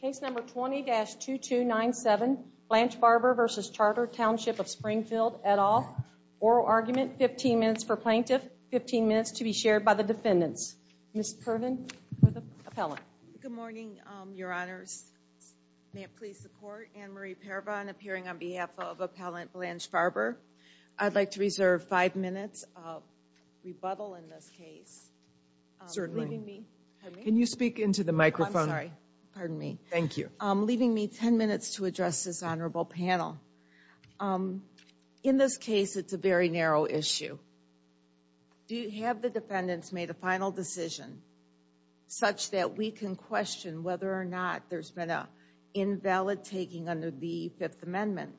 Case number 20-2297, Blanche Barber v. Charter, Township of Springfield, et al. Oral argument, 15 minutes for plaintiff, 15 minutes to be shared by the defendants. Ms. Pervin for the appellant. Good morning, your honors. May it please the court, Anne-Marie Paravan appearing on behalf of Appellant Blanche Barber. I'd like to reserve five minutes of rebuttal in this case. Certainly. Can you speak into the microphone? I'm sorry. Pardon me. Thank you. Leaving me 10 minutes to address this honorable panel. In this case, it's a very narrow issue. Do you have the defendants made a final decision such that we can question whether or not there's been an invalid taking under the Fifth Amendment?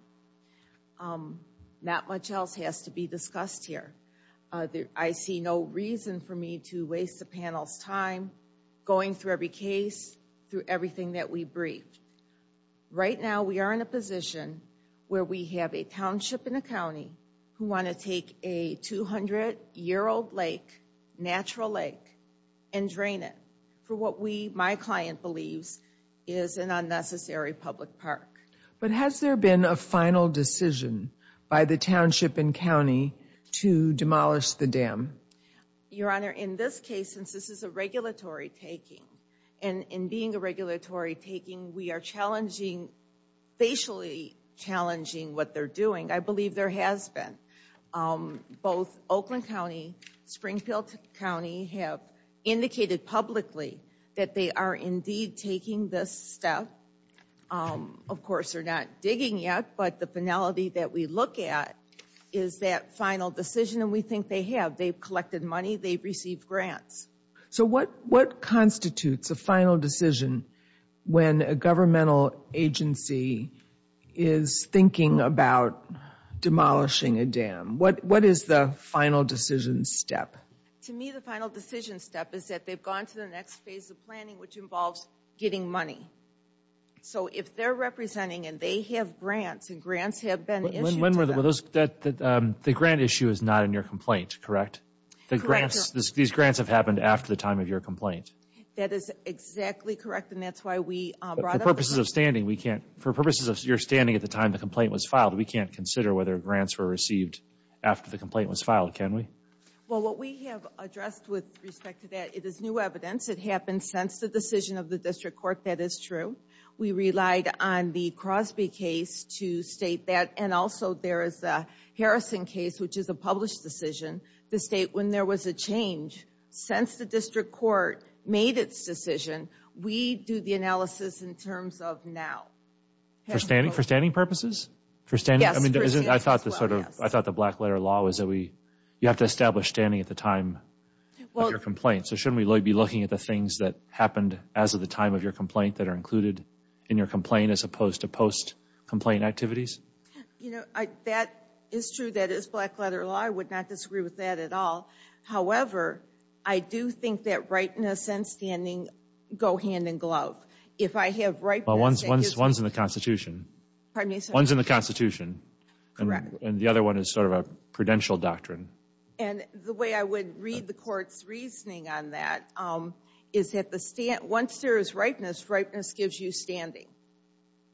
Not much else has to be discussed here. I see no reason for me to waste the panel's time going through every case, through everything that we briefed. Right now, we are in a position where we have a township and a county who want to take a 200-year-old lake, natural lake, and drain it for what my client believes is an unnecessary public park. But has there been a final decision by the township and county to demolish the dam? Your Honor, in this case, since this is a regulatory taking, and in being a regulatory taking, we are challenging, facially challenging what they're doing. I believe there has been. Both Oakland County, Springfield County have indicated publicly that they are indeed taking this step. Of course, they're not digging yet, but the finality that we look at is that final decision. We think they have. They've collected money. They've received grants. So what constitutes a final decision when a governmental agency is thinking about demolishing a dam? What is the final decision step? To me, the final decision step is that they've gone to the next phase of planning, which So if they're representing, and they have grants, and grants have been issued to them. The grant issue is not in your complaint, correct? These grants have happened after the time of your complaint. That is exactly correct, and that's why we brought up the issue. For purposes of your standing at the time the complaint was filed, we can't consider whether grants were received after the complaint was filed, can we? Well, what we have addressed with respect to that, it is new evidence. It happened since the decision of the district court. That is true. We relied on the Crosby case to state that, and also there is the Harrison case, which is a published decision to state when there was a change. Since the district court made its decision, we do the analysis in terms of now. For standing purposes? Yes. I thought the black letter law was that you have to establish standing at the time of your complaint. So shouldn't we be looking at the things that happened as of the time of your complaint that are included in your complaint as opposed to post-complaint activities? That is true. That is black letter law. I would not disagree with that at all. However, I do think that rightness and standing go hand-in-glove. If I have rightness and standing... One's in the Constitution. Pardon me? One's in the Constitution. Correct. And the other one is sort of a prudential doctrine. And the way I would read the court's reasoning on that is that once there is rightness, rightness gives you standing.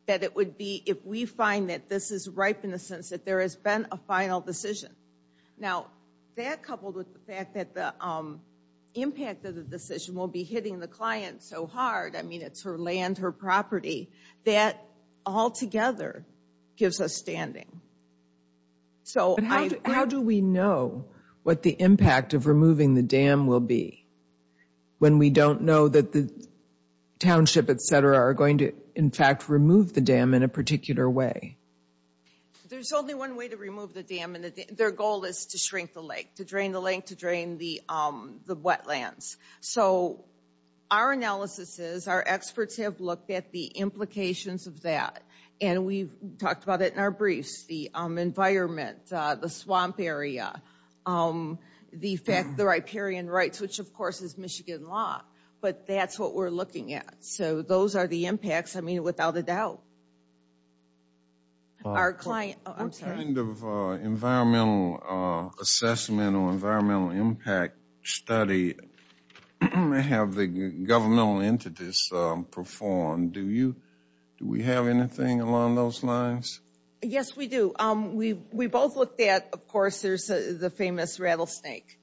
That it would be, if we find that this is right in the sense that there has been a final decision. Now, that coupled with the fact that the impact of the decision will be hitting the client so hard, I mean, it's her land, her property, that altogether gives us standing. But how do we know what the impact of removing the dam will be when we don't know that the township, et cetera, are going to, in fact, remove the dam in a particular way? There's only one way to remove the dam. Their goal is to shrink the lake, to drain the lake, to drain the wetlands. So our analysis is, our experts have looked at the implications of that, and we've talked about it in our briefs, the environment, the swamp area, the fact, the riparian rights, which of course is Michigan law. But that's what we're looking at. So those are the impacts, I mean, without a doubt. Our client, I'm sorry. What kind of environmental assessment or environmental impact study have the governmental entities performed? Do we have anything along those lines? Yes, we do. We both looked at, of course, there's the famous rattlesnake.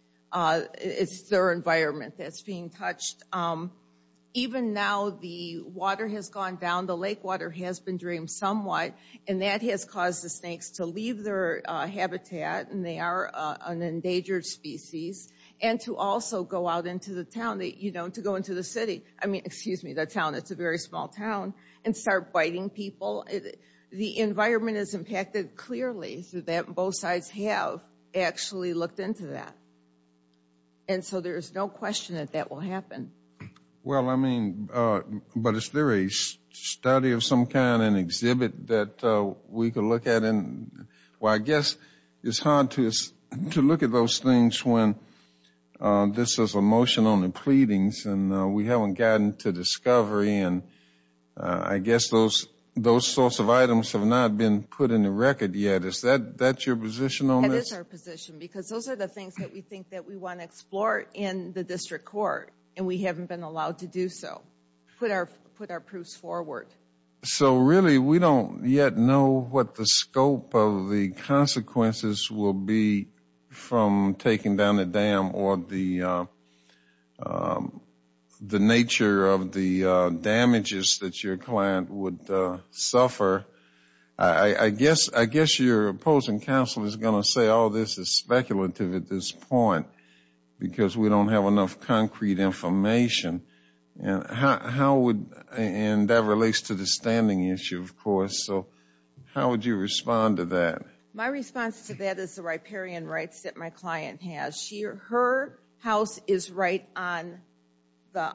It's their environment that's being touched. Even now, the water has gone down, the lake water has been drained somewhat, and that has caused the snakes to leave their habitat, and they are an endangered species, and to also go out into the town, you know, to go into the city, I mean, excuse me, the town is a very small town, and start biting people. The environment is impacted clearly, so that both sides have actually looked into that. And so there's no question that that will happen. Well, I mean, but is there a study of some kind, an exhibit that we could look at? Well, I guess it's hard to look at those things when this is a motion on the pleadings, and we haven't gotten to discovery, and I guess those sorts of items have not been put in the record yet. Is that your position on this? That is our position, because those are the things that we think that we want to explore in the district court, and we haven't been allowed to do so, put our proofs forward. So really, we don't yet know what the scope of the consequences will be from taking down the dam, or the nature of the damages that your client would suffer. I guess your opposing counsel is going to say, oh, this is speculative at this point, because we don't have enough concrete information, and how would, and that relates to the standing issue, of course, so how would you respond to that? My response to that is the riparian rights that my client has. Her house is right on the,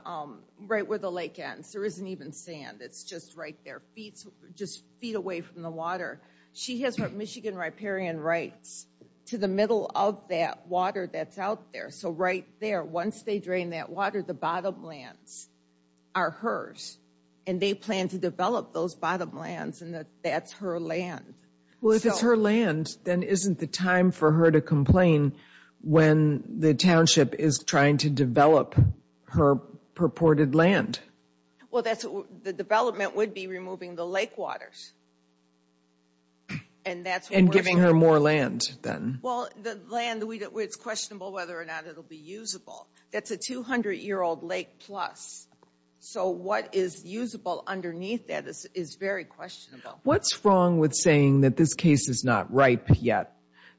right where the lake ends, there isn't even sand, it's just right there, just feet away from the water. She has Michigan riparian rights to the middle of that water that's out there, so right there, once they drain that water, the bottom lands are hers, and they plan to develop those bottom lands, and that's her land. Well, if it's her land, then isn't the time for her to complain when the township is trying to develop her purported land? Well, that's, the development would be removing the lake waters, and that's what we're And giving her more land, then? Well, the land, it's questionable whether or not it'll be usable. That's a 200-year-old lake plus, so what is usable underneath that is very questionable. What's wrong with saying that this case is not ripe yet?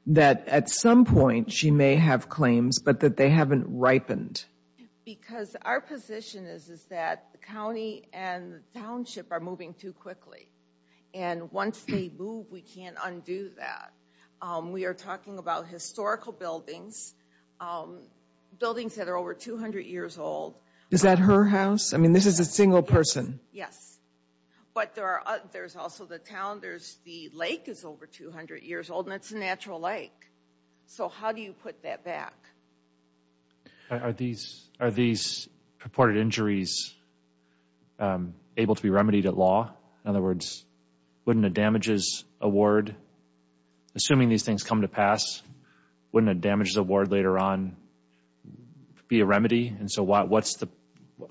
That at some point, she may have claims, but that they haven't ripened? Because our position is, is that the county and the township are moving too quickly. And once they move, we can't undo that. We are talking about historical buildings, buildings that are over 200 years old. Is that her house? I mean, this is a single person? Yes. But there's also the town, the lake is over 200 years old, and it's a natural lake. So how do you put that back? Are these purported injuries able to be remedied at law? In other words, wouldn't a damages award, assuming these things come to pass, wouldn't a damages award later on be a remedy? And so what's the,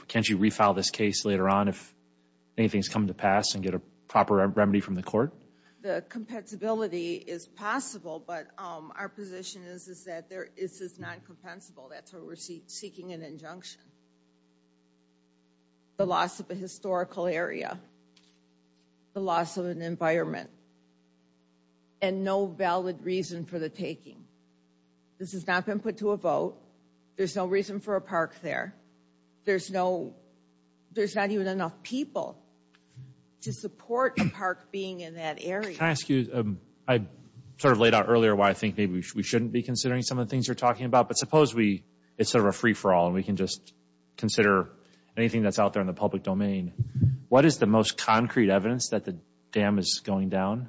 can't you refile this case later on if anything's come to pass and get a proper remedy from the court? The compensability is possible, but our position is, is that this is non-compensable. That's why we're seeking an injunction. The loss of a historical area. The loss of an environment. And no valid reason for the taking. This has not been put to a vote. There's no reason for a park there. There's no, there's not even enough people to support a park being in that area. Can I ask you, I sort of laid out earlier why I think maybe we shouldn't be considering some of the things you're talking about, but suppose we, it's sort of a free-for-all and we can just consider anything that's out there in the public domain. What is the most concrete evidence that the dam is going down?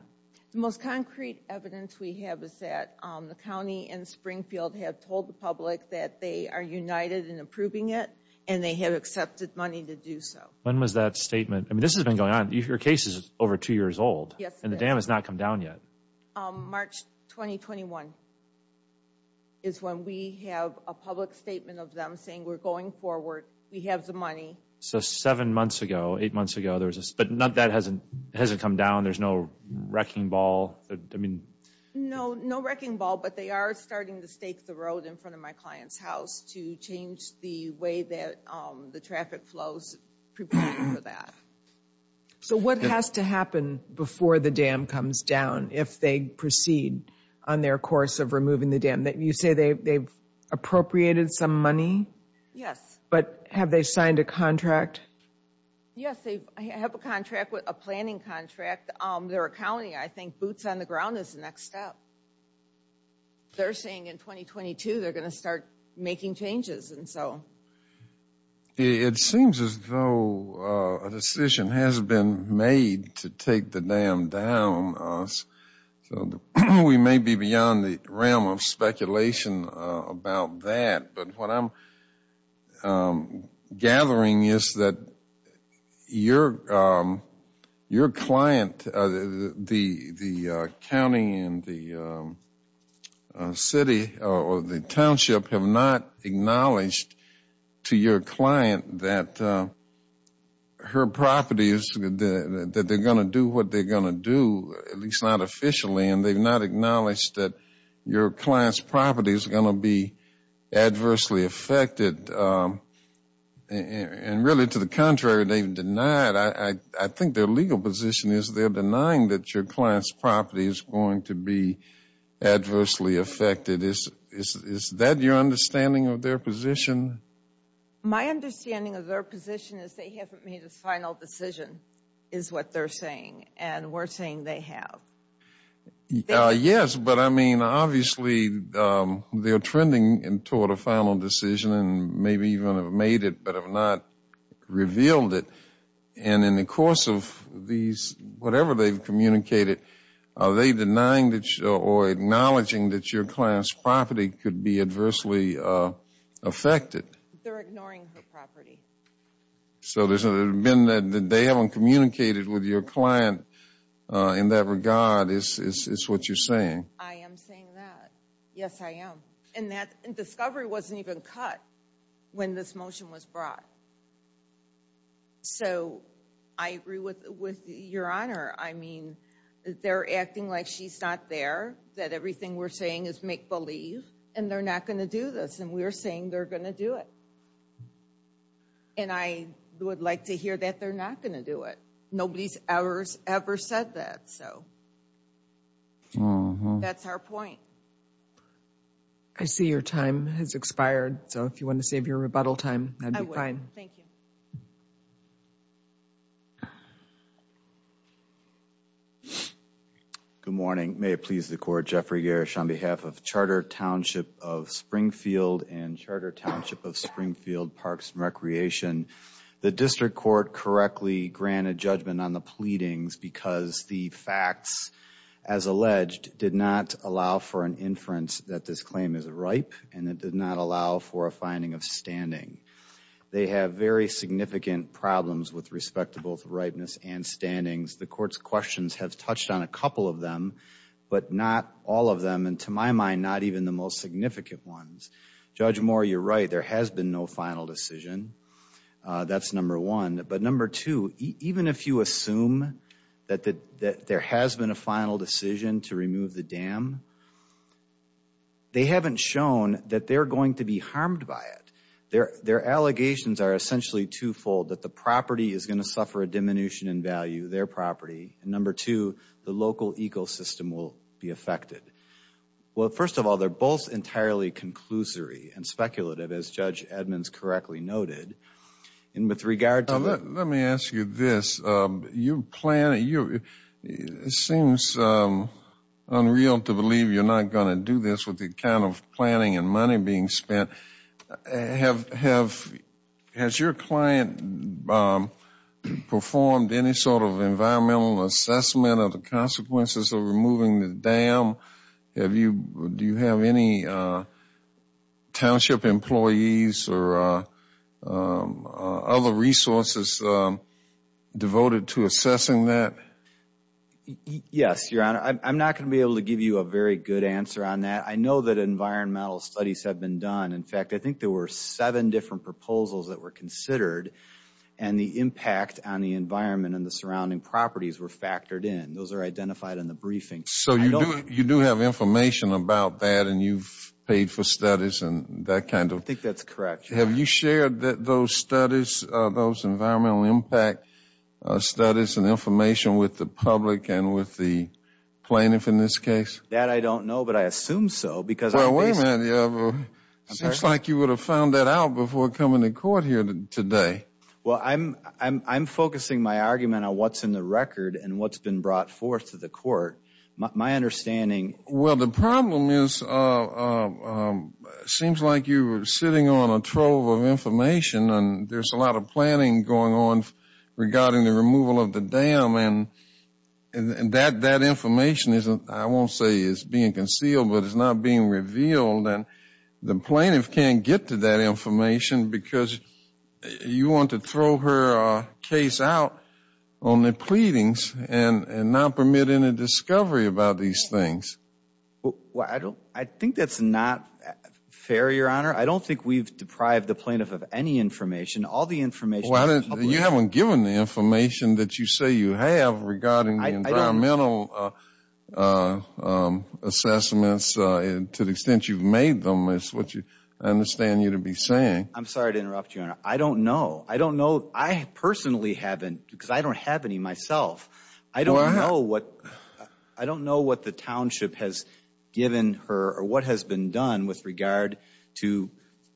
The most concrete evidence we have is that the county and Springfield have told the public that they are united in approving it and they have accepted money to do so. When was that statement, I mean this has been going on, your case is over two years old. Yes it is. And the dam has not come down yet. March 2021 is when we have a public statement of them saying we're going forward, we have the money. So seven months ago, eight months ago, there was this, but none of that hasn't, hasn't come down, there's no wrecking ball, I mean. No, no wrecking ball, but they are starting to stake the road in front of my client's house to change the way that the traffic flows, preparing for that. So what has to happen before the dam comes down, if they proceed on their course of removing the dam? You say they've appropriated some money? Yes. But have they signed a contract? Yes, they have a contract, a planning contract. They're a county, I think boots on the ground is the next step. They're saying in 2022 they're going to start making changes and so. It seems as though a decision has been made to take the dam down, so we may be beyond the realm of speculation about that, but what I'm gathering is that your client, the county and the city or the township have not acknowledged to your client that her properties, that they're going to do what they're going to do, at least not officially, and they've not acknowledged that your client's property is going to be adversely affected. And really to the contrary, they've denied, I think their legal position is they're denying that your client's property is going to be adversely affected. Is that your understanding of their position? My understanding of their position is they haven't made a final decision, is what they're saying, and we're saying they have. Yes, but I mean obviously they're trending toward a final decision and maybe even have made it but have not revealed it. And in the course of these, whatever they've communicated, are they denying or acknowledging that your client's property could be adversely affected? They're ignoring her property. So it's been that they haven't communicated with your client in that regard, is what you're saying. I am saying that. Yes, I am. And that discovery wasn't even cut when this motion was brought. So I agree with your Honor. I mean, they're acting like she's not there, that everything we're saying is make believe, and they're not going to do this, and we're saying they're going to do it. And I would like to hear that they're not going to do it. Nobody's ever said that, so that's our point. I see your time has expired, so if you want to save your rebuttal time, that'd be fine. I will, thank you. Good morning, may it please the Court, Jeffrey Gersh on behalf of Charter Township of Springfield and Charter Township of Springfield Parks and Recreation. The District Court correctly granted judgment on the pleadings because the facts, as alleged, did not allow for an inference that this claim is ripe, and it did not allow for a finding of standing. They have very significant problems with respect to both ripeness and standings. The Court's questions have touched on a couple of them, but not all of them, and to my mind, not even the most significant ones. Judge Moore, you're right, there has been no final decision. That's number one. But number two, even if you assume that there has been a final decision to remove the dam, they haven't shown that they're going to be harmed by it. Their allegations are essentially twofold, that the property is going to suffer a diminution in value, their property, and number two, the local ecosystem will be affected. Well, first of all, they're both entirely conclusory and speculative, as Judge Edmonds correctly noted. Let me ask you this. It seems unreal to believe you're not going to do this with the account of planning and money being spent. Has your client performed any sort of environmental assessment of the consequences of removing the dam? Do you have any township employees or other resources devoted to assessing that? Yes, Your Honor. I'm not going to be able to give you a very good answer on that. I know that environmental studies have been done. In fact, I think there were seven different proposals that were considered, and the impact on the environment and the surrounding properties were factored in. Those are identified in the briefing. So you do have information about that, and you've paid for studies and that kind of... I think that's correct, Your Honor. Have you shared those studies, those environmental impact studies and information with the public and with the plaintiff in this case? That I don't know, but I assume so, because... Well, wait a minute. It seems like you would have found that out before coming to court here today. Well, I'm focusing my argument on what's in the record and what's been brought forth to the court. My understanding... Well, the problem is it seems like you're sitting on a trove of information, and there's a lot of planning going on regarding the removal of the dam, and that information, I won't say is being concealed, but it's not being revealed, and the plaintiff can't get to that information because you want to throw her case out on the pleadings and not permit any discovery about these things. Well, I think that's not fair, Your Honor. I don't think we've deprived the plaintiff of any information. All the information... Well, you haven't given the information that you say you have regarding the environmental assessments to the extent you've made them. It's what I understand you to be saying. I'm sorry to interrupt you, Your Honor. I don't know. I don't know. I personally haven't, because I don't have any myself. I don't know what the township has given her or what has been done with regard to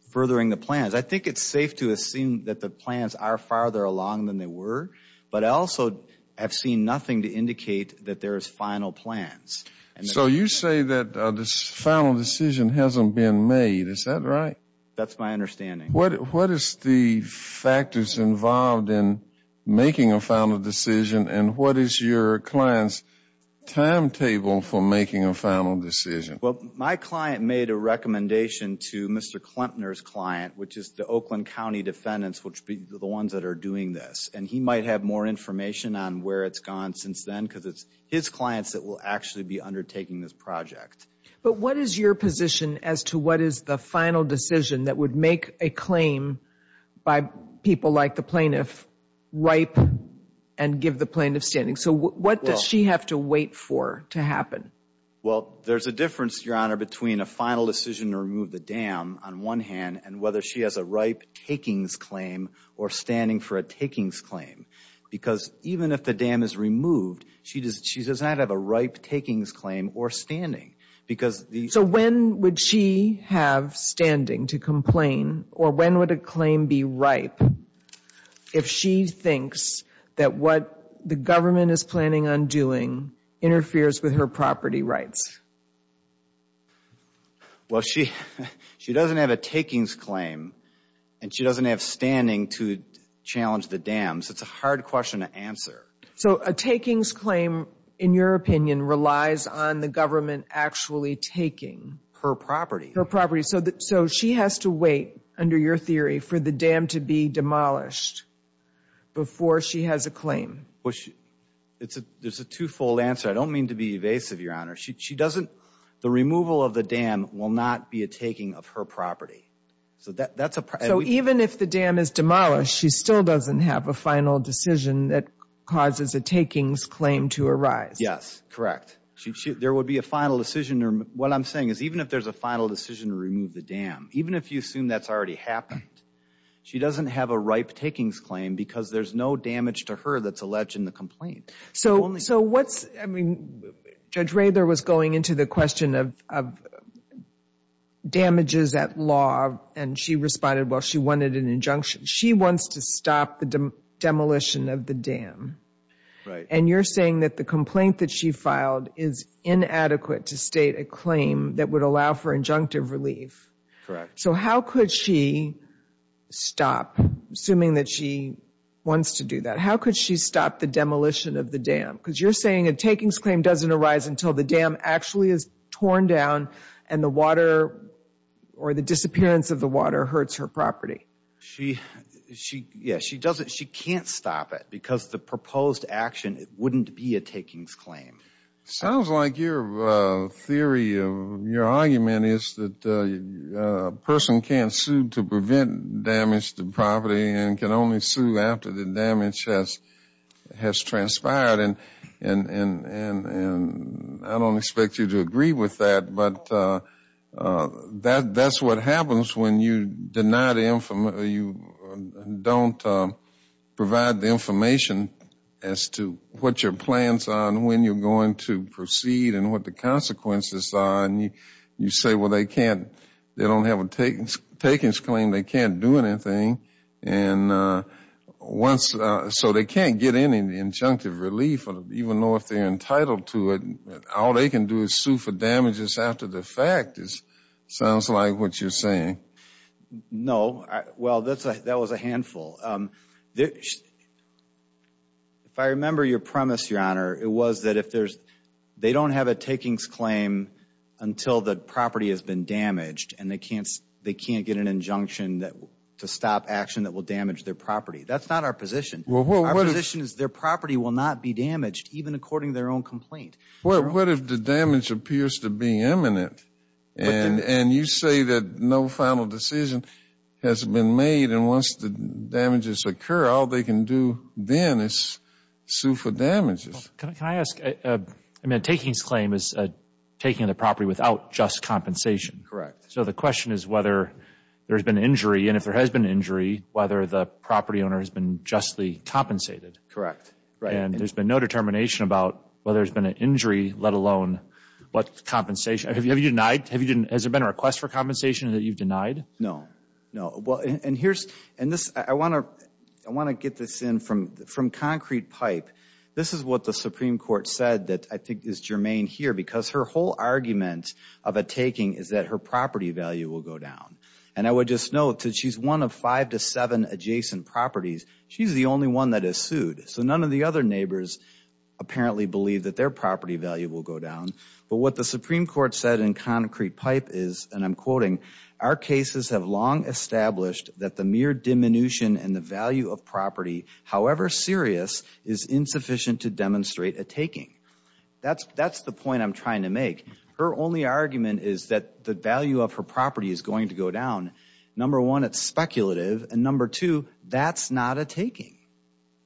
furthering the plans. I think it's safe to assume that the plans are farther along than they were, but I also have seen nothing to indicate that there is final plans. So you say that this final decision hasn't been made. Is that right? That's my understanding. What is the factors involved in making a final decision, and what is your client's timetable for making a final decision? Well, my client made a recommendation to Mr. Klemtner's client, which is the Oakland County defendants, which are the ones that are doing this, and he might have more information on where it's gone since then because it's his clients that will actually be undertaking this project. But what is your position as to what is the final decision that would make a claim by people like the plaintiff ripe and give the plaintiff standing? So what does she have to wait for to happen? Well, there's a difference, Your Honor, between a final decision to remove the dam on one hand and whether she has a ripe takings claim or standing for a takings claim. Because even if the dam is removed, she does not have a ripe takings claim or standing because the... So when would she have standing to complain, or when would a claim be ripe if she thinks that what the government is planning on doing interferes with her property rights? Well, she doesn't have a takings claim and she doesn't have standing to challenge the dams. It's a hard question to answer. So a takings claim, in your opinion, relies on the government actually taking her property? Her property. So she has to wait, under your theory, for the dam to be demolished before she has a claim? Well, there's a twofold answer. I don't mean to be evasive, Your Honor. She doesn't... The removal of the dam will not be a taking of her property. So that's a... So even if the dam is demolished, she still doesn't have a final decision that causes a takings claim to arise? Yes, correct. There would be a final decision. What I'm saying is even if there's a final decision to remove the dam, even if you assume that's already happened, she doesn't have a ripe takings claim because there's no damage to her that's alleged in the complaint. So what's... Judge Rader was going into the question of damages at law and she responded, well, she wanted an injunction. She wants to stop the demolition of the dam. Right. And you're saying that the complaint that she filed is inadequate to state a claim that would allow for injunctive relief. Correct. So how could she stop, assuming that she wants to do that, how could she stop the demolition of the dam? Because you're saying a takings claim doesn't arise until the dam actually is torn down and the water or the disappearance of the water hurts her property. She, yeah, she doesn't, she can't stop it because the proposed action, it wouldn't be a takings claim. Sounds like your theory of, your argument is that a person can't sue to prevent damage to property and can only sue after the damage has transpired. And I don't expect you to agree with that, but that's what happens when you deny the, you don't provide the information as to what your plans are and when you're going to proceed and what the consequences are. And you say, well, they can't, they don't have a takings claim. They can't do anything. And once, so they can't get any injunctive relief or even know if they're entitled to it. All they can do is sue for damages after the fact. It sounds like what you're saying. No, well, that was a handful. If I remember your premise, Your Honor, it was that if there's, they don't have a takings claim until the property has been damaged and they can't get an injunction to stop action that will damage their property. That's not our position. Our position is their property will not be damaged even according to their own complaint. Well, what if the damage appears to be imminent and you say that no final decision has been made and once the damages occur, all they can do then is sue for damages. Can I ask, I mean, a takings claim is taking the property without just compensation. Correct. So the question is whether there's been injury and if there has been injury, whether the property owner has been justly compensated. Correct, right. And there's been no determination about whether there's been an injury, let alone what compensation, have you denied? Has there been a request for compensation that you've denied? No, no. Well, and here's, and this, I wanna get this in from concrete pipe. This is what the Supreme Court said that I think is germane here because her whole argument of a taking is that her property value will go down. And I would just note that she's one of five to seven adjacent properties. She's the only one that is sued. So none of the other neighbors apparently believe that their property value will go down. But what the Supreme Court said in concrete pipe is, and I'm quoting, our cases have long established that the mere diminution and the value of property, however serious, is insufficient to demonstrate a taking. That's the point I'm trying to make. Her only argument is that the value of her property is going to go down. Number one, it's speculative. And number two, that's not a taking.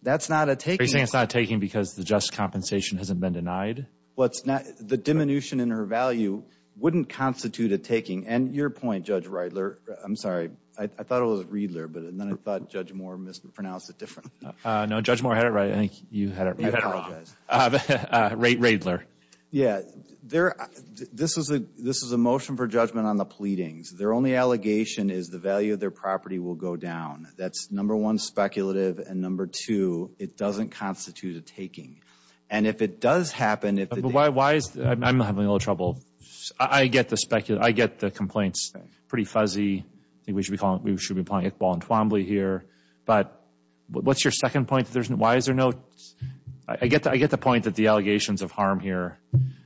That's not a taking. Are you saying it's not a taking because the just compensation hasn't been denied? What's not, the diminution in her value wouldn't constitute a taking. And your point, Judge Riedler, I'm sorry. I thought it was Riedler, but then I thought Judge Moore mispronounced it different. No, Judge Moore had it right. I think you had it wrong. You had it wrong. Riedler. Yeah, this is a motion for judgment on the pleadings. Their only allegation is the value of their property will go down. That's number one, speculative. And number two, it doesn't constitute a taking. And if it does happen, if the- Why is, I'm having a little trouble. I get the complaints. Pretty fuzzy. I think we should be calling it ball and twombly here. But what's your second point? Why is there no, I get the point that the allegations of harm here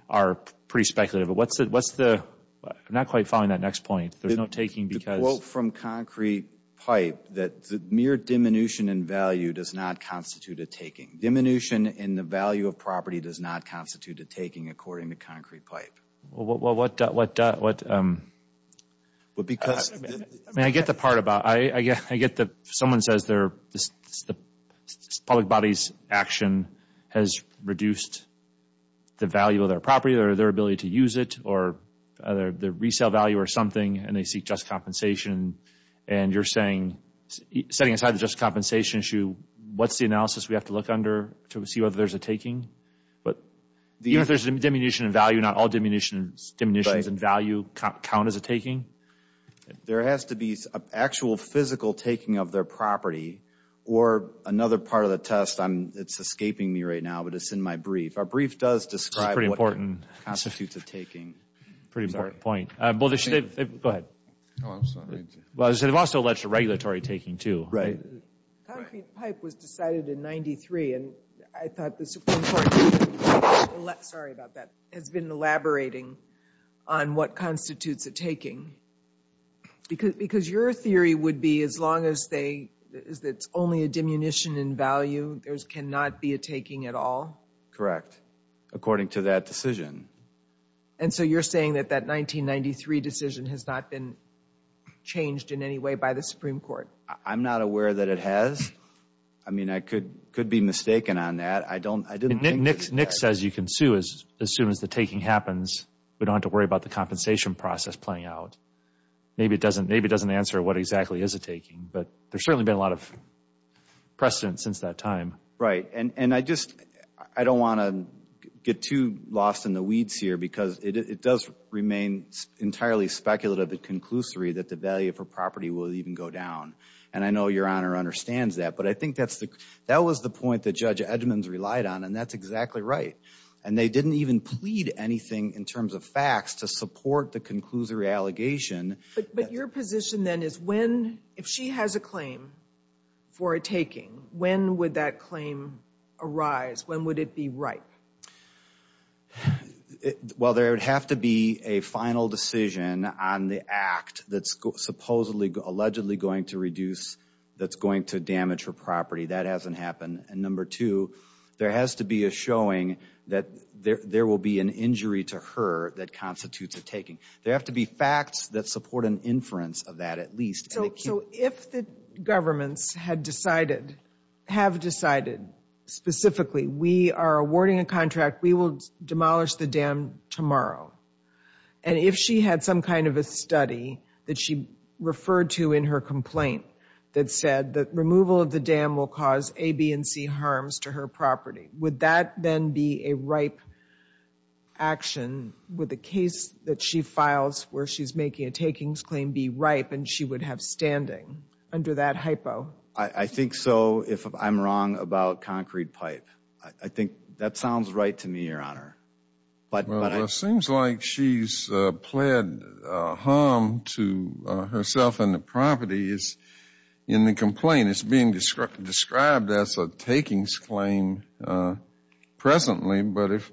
are pretty speculative. But what's the, I'm not quite following that next point. There's no taking because- The quote from Concrete Pipe that the mere diminution in value does not constitute a taking. Diminution in the value of property does not constitute a taking, according to Concrete Pipe. Well, what, because- I mean, I get the part about, I get that someone says the public body's action has reduced the value of their property or their ability to use it or their resale value or something and they seek just compensation. And you're saying, setting aside the just compensation issue, what's the analysis we have to look under to see whether there's a taking? But even if there's a diminution in value, not all diminutions in value count as a taking. There has to be an actual physical taking of their property or another part of the test, I'm, it's escaping me right now, but it's in my brief. Our brief does describe what constitutes a taking. That's a pretty important point. Go ahead. Oh, I'm sorry. Well, they've also alleged a regulatory taking too. Right. Concrete Pipe was decided in 93 and I thought the Supreme Court, sorry about that, has been elaborating on what constitutes a taking. Because your theory would be, as long as it's only a diminution in value, there cannot be a taking at all? Correct. According to that decision. And so you're saying that that 1993 decision has not been changed in any way by the Supreme Court? I'm not aware that it has. I mean, I could be mistaken on that. I don't, I didn't think that. Nick says you can sue as soon as the taking happens. We don't have to worry about the compensation process playing out. Maybe it doesn't answer what exactly is a taking, but there's certainly been a lot of precedent since that time. Right. And I just, I don't want to get too lost in the weeds here because it does remain entirely speculative and conclusory that the value for property will even go down. And I know your Honor understands that, but I think that was the point that Judge Edmonds relied on And they didn't even plead anything in terms of facts to support the conclusory allegation. But your position then is when, if she has a claim for a taking, when would that claim arise? When would it be ripe? Well, there would have to be a final decision on the act that's supposedly, allegedly going to reduce, that's going to damage her property. That hasn't happened. And number two, there has to be a showing that there will be an injury to her that constitutes a taking. There have to be facts that support an inference of that at least. So if the governments had decided, have decided specifically, we are awarding a contract, we will demolish the dam tomorrow. And if she had some kind of a study that she referred to in her complaint that said that removal of the dam will cause A, B, and C harms to her property, would that then be a ripe action? Would the case that she files where she's making a takings claim be ripe and she would have standing under that hypo? I think so, if I'm wrong about concrete pipe. I think that sounds right to me, Your Honor. Well, it seems like she's pled harm to herself and the properties in the complaint. It's being described as a takings claim presently, but if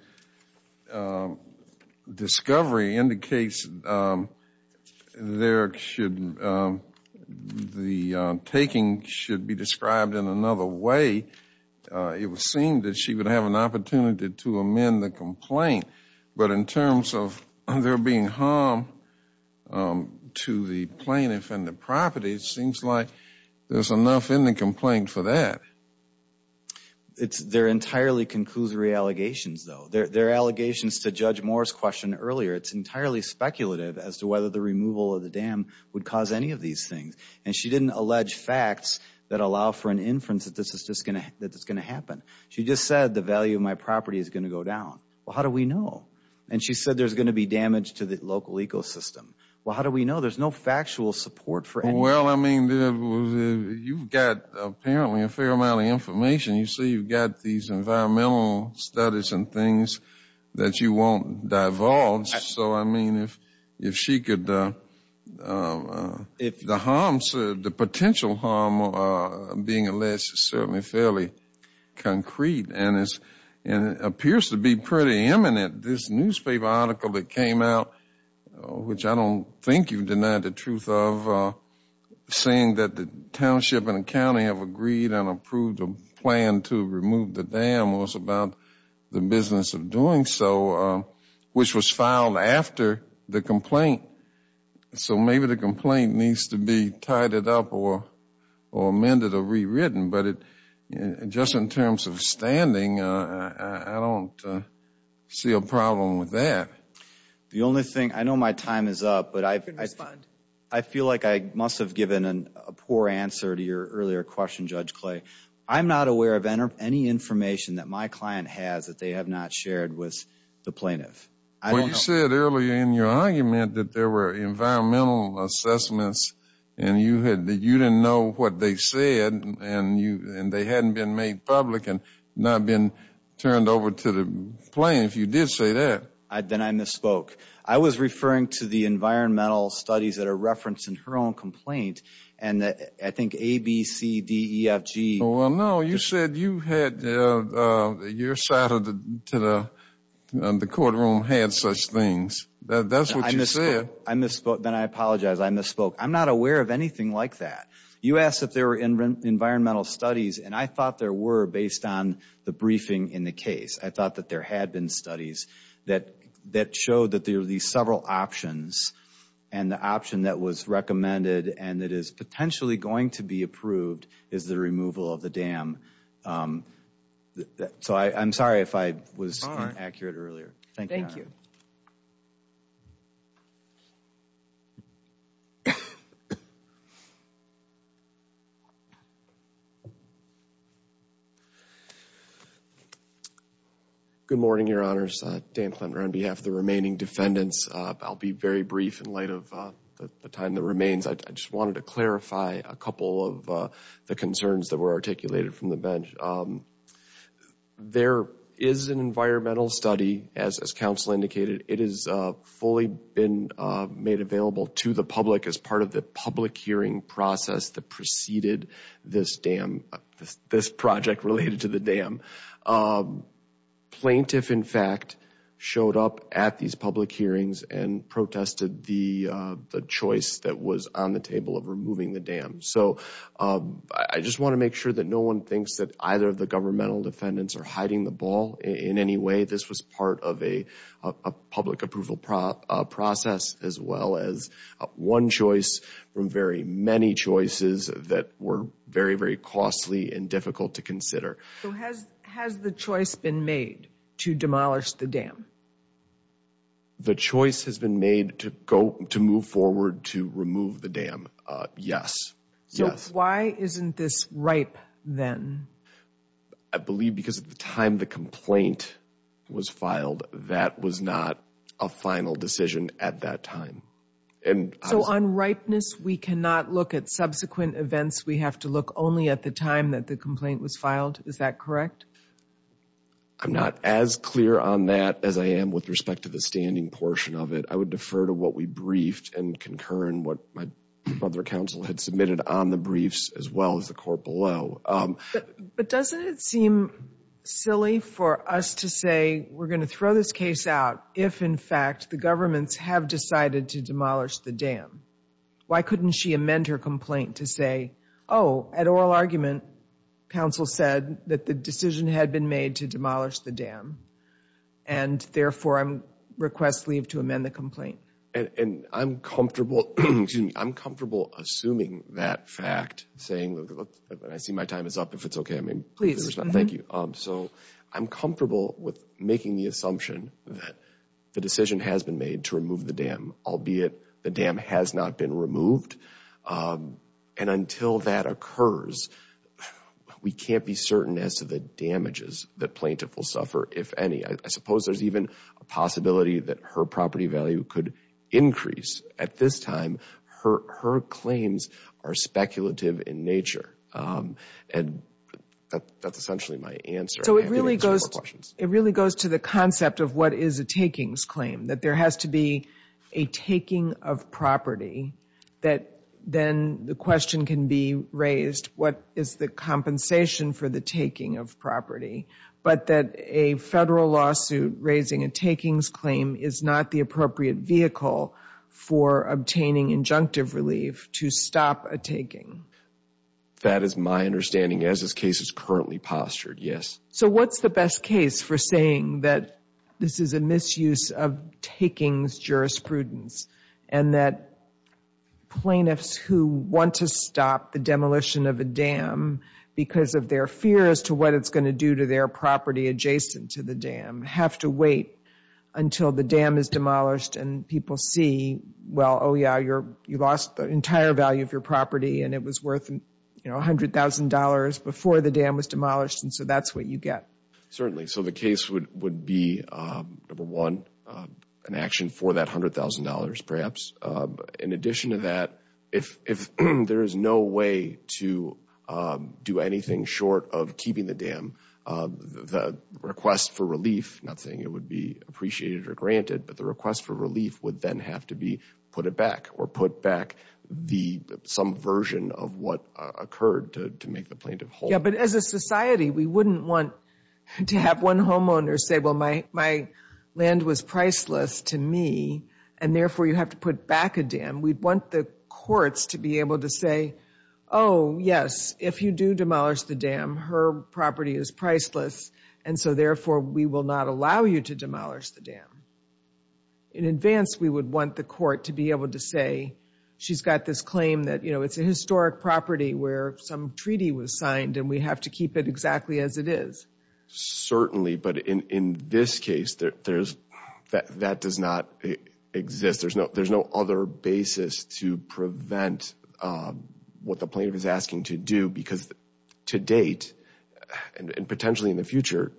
discovery indicates there should, the taking should be described in another way, it would seem that she would have an opportunity to amend the complaint. But in terms of there being harm to the plaintiff and the property, it seems like there's enough in the complaint for that. They're entirely conclusory allegations, though. They're allegations to Judge Moore's question earlier. It's entirely speculative as to whether the removal of the dam would cause any of these things. And she didn't allege facts that allow for an inference that this is just going to happen. She just said the value of my property is going to go down. Well, how do we know? And she said there's going to be damage to the local ecosystem. Well, how do we know? There's no factual support for anything. I mean, you've got apparently a fair amount of information. You say you've got these environmental studies and things that you won't divulge. So, I mean, if she could, the potential harm being alleged is certainly fairly concrete. And it appears to be pretty imminent. This newspaper article that came out, which I don't think you've denied the truth of, saying that the township and the county have agreed and approved a plan to remove the dam was about the business of doing so, which was filed after the complaint. So maybe the complaint needs to be tidied up or amended or rewritten. But just in terms of standing, I don't see a problem with that. The only thing, I know my time is up, but I feel like I must have a poor answer to your earlier question, Judge Clay. I'm not aware of any information that my client has that they have not shared with the plaintiff. Well, you said earlier in your argument that there were environmental assessments and you didn't know what they said and they hadn't been made public and not been turned over to the plaintiff. You did say that. Then I misspoke. I was referring to the environmental studies that are referenced in her own complaint and I think A, B, C, D, E, F, G. Well, no, you said your side of the courtroom had such things. That's what you said. I misspoke. Then I apologize. I misspoke. I'm not aware of anything like that. You asked if there were environmental studies and I thought there were based on the briefing in the case. I thought that there had been studies that showed that there were these several options and the option that was recommended and that is potentially going to be approved is the removal of the dam. So I'm sorry if I was inaccurate earlier. Thank you. Good morning, Your Honors. Dan Plummer on behalf of the remaining defendants. I'll be very brief in light of the time that remains. I just wanted to clarify a couple of the concerns that were articulated from the bench. There is an environmental study as counsel indicated. It has fully been made available to the public as part of the public hearing process that preceded this dam, this project related to the dam. Plaintiff in fact showed up at these public hearings and protested the choice that was on the table of removing the dam. So I just want to make sure that no one thinks that either of the governmental defendants are hiding the ball in any way. This was part of a public approval process as well as one choice from very many choices that were very, very costly and difficult to consider. So has the choice been made to demolish the dam? The choice has been made to move forward to remove the dam, yes. So why isn't this ripe then? I believe because at the time the complaint was filed that was not a final decision at that time. So on ripeness, we cannot look at subsequent events. We have to look only at the time that the complaint was filed. Is that correct? I'm not as clear on that as I am with respect to the standing portion of it. I would defer to what we briefed and concur in what my brother counsel had submitted on the briefs as well as the court below. But doesn't it seem silly for us to say we're going to throw this case out if in fact the governments have decided to demolish the dam? Why couldn't she amend her complaint to say, oh, at oral argument, counsel said that the decision had been made to demolish the dam and therefore I request leave to amend the complaint. And I'm comfortable assuming that fact, saying I see my time is up if it's okay. I mean, thank you. So I'm comfortable with making the assumption that the decision has been made to remove the dam, albeit the dam has not been removed. And until that occurs, we can't be certain as to the damages that plaintiff will suffer, if any. I suppose there's even a possibility that her property value could increase. At this time, her claims are speculative in nature. And that's essentially my answer. So it really goes to the concept of what is a takings claim, that there has to be a taking of property that then the question can be raised, what is the compensation for the taking of property? But that a federal lawsuit raising a takings claim is not the appropriate vehicle for obtaining injunctive relief to stop a taking. That is my understanding as this case is currently postured, yes. So what's the best case for saying that this is a misuse of takings jurisprudence and that plaintiffs who want to stop the demolition of a dam because of their fear as to what it's going to do to their property adjacent to the dam have to wait until the dam is demolished and people see, well, oh yeah, you lost the entire value of your property and it was worth $100,000 before the dam was demolished. And so that's what you get. Certainly. So the case would be, number one, an action for that $100,000 perhaps. In addition to that, if there is no way to do anything short of keeping the dam, the request for relief, not saying it would be appreciated or granted, but the request for relief would then have to be put it back or put back some version of what occurred to make the plaintiff whole. Yeah, but as a society, we wouldn't want to have one homeowner say, my land was priceless to me and therefore you have to put back a dam. We'd want the courts to be able to say, oh yes, if you do demolish the dam, her property is priceless and so therefore we will not allow you to demolish the dam. In advance, we would want the court to be able to say, she's got this claim that it's a historic property where some treaty was signed and we have to keep it exactly as it is. Certainly, but in this case, that does not exist. There's no other basis to prevent what the plaintiff is asking to do because to date and potentially in the future,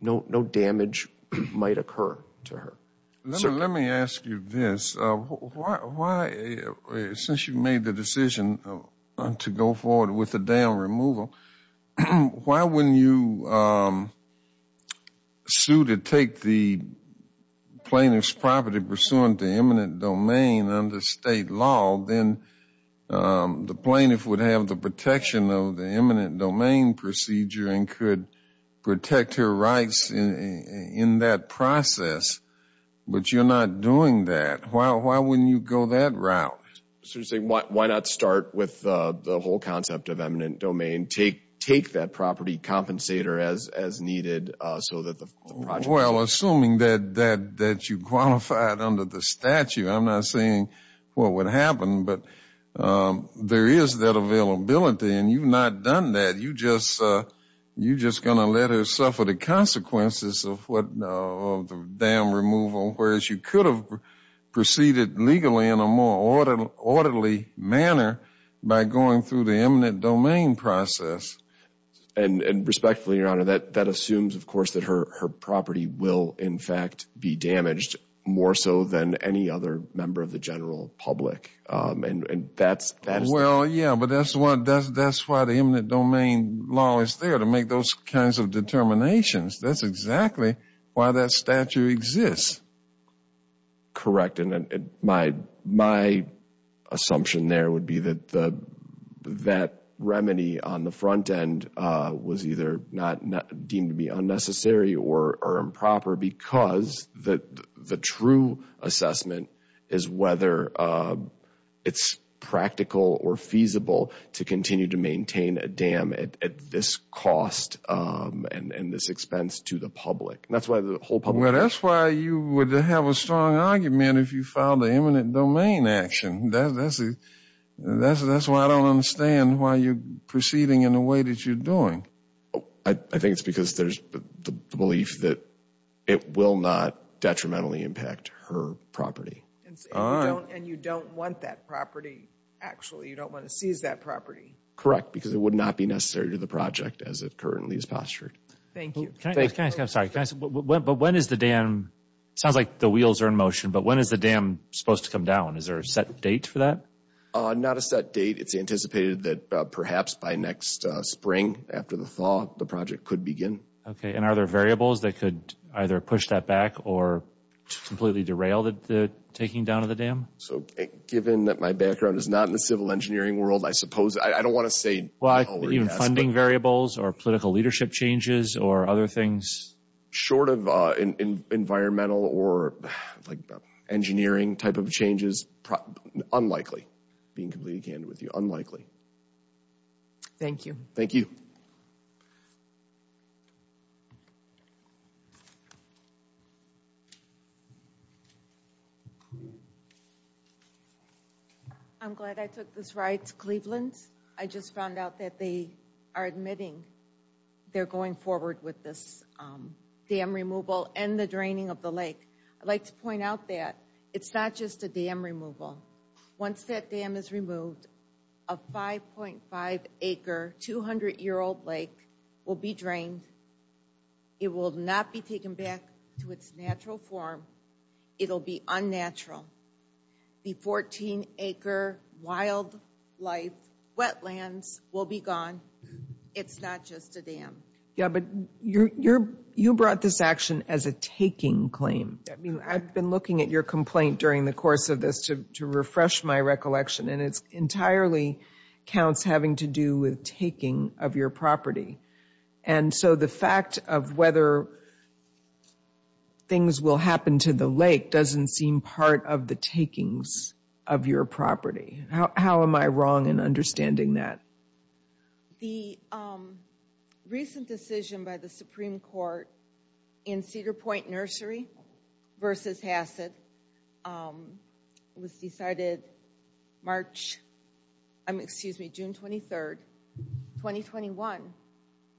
no damage might occur to her. Let me ask you this. Since you made the decision to go forward with the dam removal, why wouldn't you sue to take the plaintiff's property pursuant to eminent domain under state law? Then the plaintiff would have the protection of the eminent domain procedure and could protect her rights in that process, but you're not doing that. Why wouldn't you go that route? Why not start with the whole concept of eminent domain take that property compensator as needed? Well, assuming that you qualified under the statute, I'm not saying what would happen, but there is that availability and you've not done that. You're just going to let her suffer the consequences of the dam removal, whereas you could have proceeded legally in a more orderly manner by going through the eminent domain process. And respectfully, Your Honor, that assumes of course that her property will in fact be damaged more so than any other member of the general public. Well, yeah, but that's why the eminent domain law is there to make those kinds of determinations. That's exactly why that statute exists. That's correct, and my assumption there would be that that remedy on the front end was either deemed to be unnecessary or improper because the true assessment is whether it's practical or feasible to continue to maintain a dam at this cost and this expense to the public. That's why the whole public... That's why you would have a strong argument if you filed the eminent domain action. That's why I don't understand why you're proceeding in the way that you're doing. I think it's because there's the belief that it will not detrimentally impact her property. And you don't want that property, actually. You don't want to seize that property. Correct, because it would not be necessary to the project as it currently is postured. Thank you. Can I ask, I'm sorry, but when is the dam... Sounds like the wheels are in motion, but when is the dam supposed to come down? Is there a set date for that? Not a set date. It's anticipated that perhaps by next spring after the thaw, the project could begin. Okay, and are there variables that could either push that back or completely derail the taking down of the dam? So given that my background is not in the civil engineering world, I suppose, I don't want to say... Well, even funding variables or political leadership changes or other things? Short of environmental or engineering type of changes, unlikely. Being completely candid with you, unlikely. Thank you. Thank you. I'm glad I took this ride to Cleveland. I just found out that they are admitting they're going forward with this dam removal and the draining of the lake. I'd like to point out that it's not just a dam removal. Once that dam is removed, a 5.5-acre, 200-year-old lake will be drained. It will not be taken back to its natural form. It'll be unnatural. The 14-acre wildlife wetlands will be gone. It's not just a dam. Yeah, but you brought this action as a taking claim. I mean, I've been looking at your complaint during the course of this to refresh my recollection, and it entirely counts having to do with taking of your property. And so the fact of whether things will happen to the lake doesn't seem part of the takings of your property. How am I wrong in understanding that? The recent decision by the Supreme Court in Cedar Point Nursery versus Hassett was decided March, excuse me, June 23, 2021.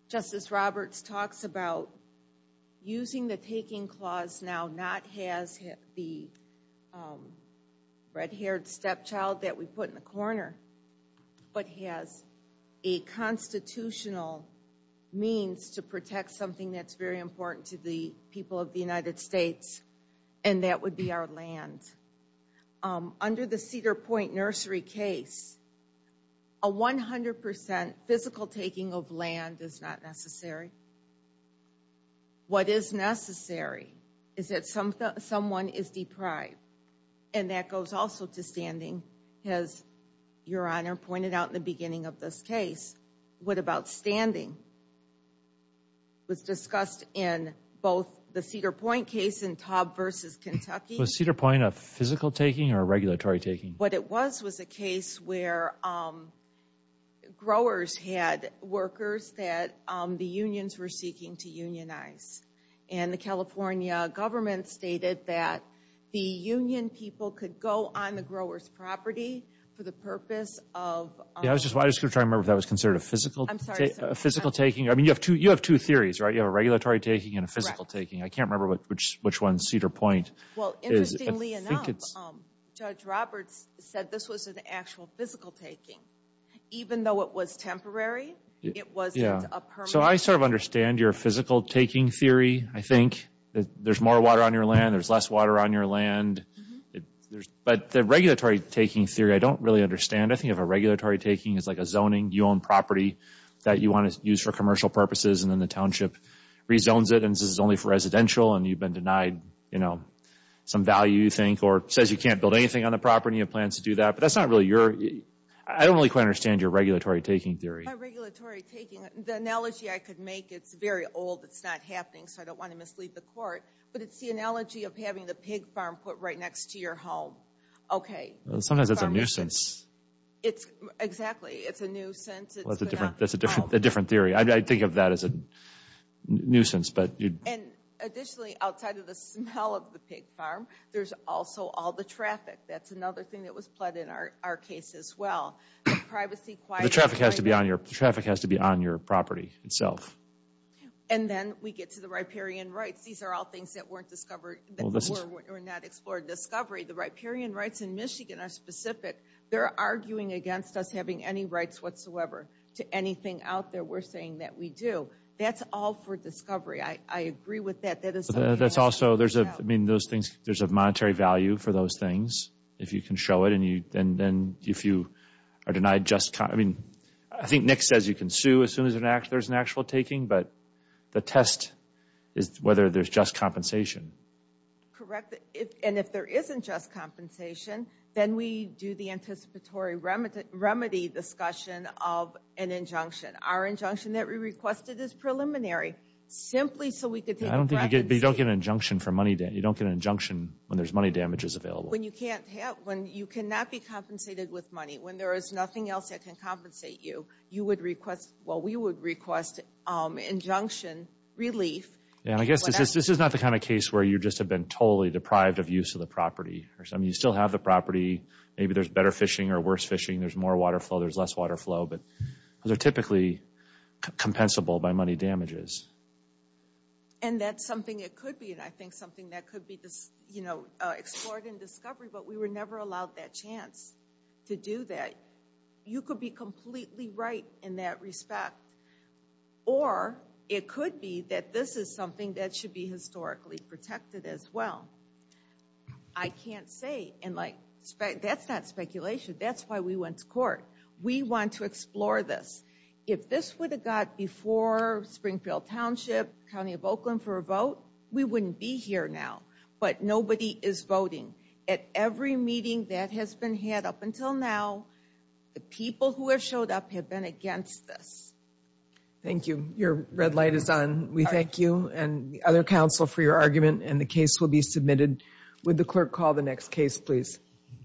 Justice Roberts talks about using the taking clause now not as the red-haired stepchild that we put in the corner, but has a constitutional means to protect something that's very important to the people of the United States, and that would be our land. Under the Cedar Point Nursery case, a 100% physical taking of land is not necessary. What is necessary is that someone is deprived, and that goes also to standing, as Your Honor pointed out in the beginning of this case. What about standing? It was discussed in both the Cedar Point case and Taub versus Kentucky. Was Cedar Point a physical taking or a regulatory taking? What it was was a case where growers had workers that the unions were seeking to unionize. The California government stated that the union people could go on the grower's property for the purpose of... Yeah, I was just going to try to remember if that was considered a physical taking. I mean, you have two theories, right? You have a regulatory taking and a physical taking. I can't remember which one's Cedar Point. Well, interestingly enough, Judge Roberts said this was an actual physical taking. Even though it was temporary, it wasn't a permanent... I sort of understand your physical taking theory. I think that there's more water on your land, there's less water on your land. But the regulatory taking theory, I don't really understand. I think of a regulatory taking as like a zoning. You own property that you want to use for commercial purposes, and then the township rezones it, and this is only for residential, and you've been denied some value, you think, or says you can't build anything on the property and plans to do that. But that's not really your... I don't really quite understand your regulatory taking theory. My regulatory taking, the analogy I could make, it's very old, it's not happening, so I don't want to mislead the court. But it's the analogy of having the pig farm put right next to your home. Okay. Sometimes it's a nuisance. It's exactly, it's a nuisance. Well, that's a different theory. I think of that as a nuisance, but you... And additionally, outside of the smell of the pig farm, there's also all the traffic. That's another thing that was plugged in our case as well. Privacy, quiet... The traffic has to be on your property itself. And then we get to the riparian rights. These are all things that weren't discovered, that were not explored. Discovery, the riparian rights in Michigan are specific. They're arguing against us having any rights whatsoever to anything out there we're saying that we do. That's all for discovery. I agree with that. That is... That's also, there's a, I mean, those things, there's a monetary value for those things, if you can show it, and then if you are denied just... I think Nick says you can sue as soon as there's an actual taking, but the test is whether there's just compensation. Correct. And if there isn't just compensation, then we do the anticipatory remedy discussion of an injunction. Our injunction that we requested is preliminary, simply so we could take a... I don't think you get... You don't get an injunction for money... You don't get an injunction when there's money damages available. When you can't have... When you cannot be compensated with money, when there is nothing else that can compensate you, you would request... Well, we would request injunction relief. Yeah, I guess this is not the kind of case where you just have been totally deprived of use of the property. You still have the property. Maybe there's better fishing or worse fishing. There's more water flow, there's less water flow, but they're typically compensable by money damages. And that's something it could be, and I think something that could be explored in discovery, but we were never allowed that chance to do that. You could be completely right in that respect, or it could be that this is something that should be historically protected as well. I can't say, and that's not speculation. That's why we went to court. We want to explore this. If this would have got before Springfield Township, County of Oakland for a vote, we wouldn't be here now, but nobody is voting. At every meeting that has been had up until now, the people who have showed up have been against this. Thank you. Your red light is on. We thank you and the other counsel for your argument, and the case will be submitted. Would the clerk call the next case, please?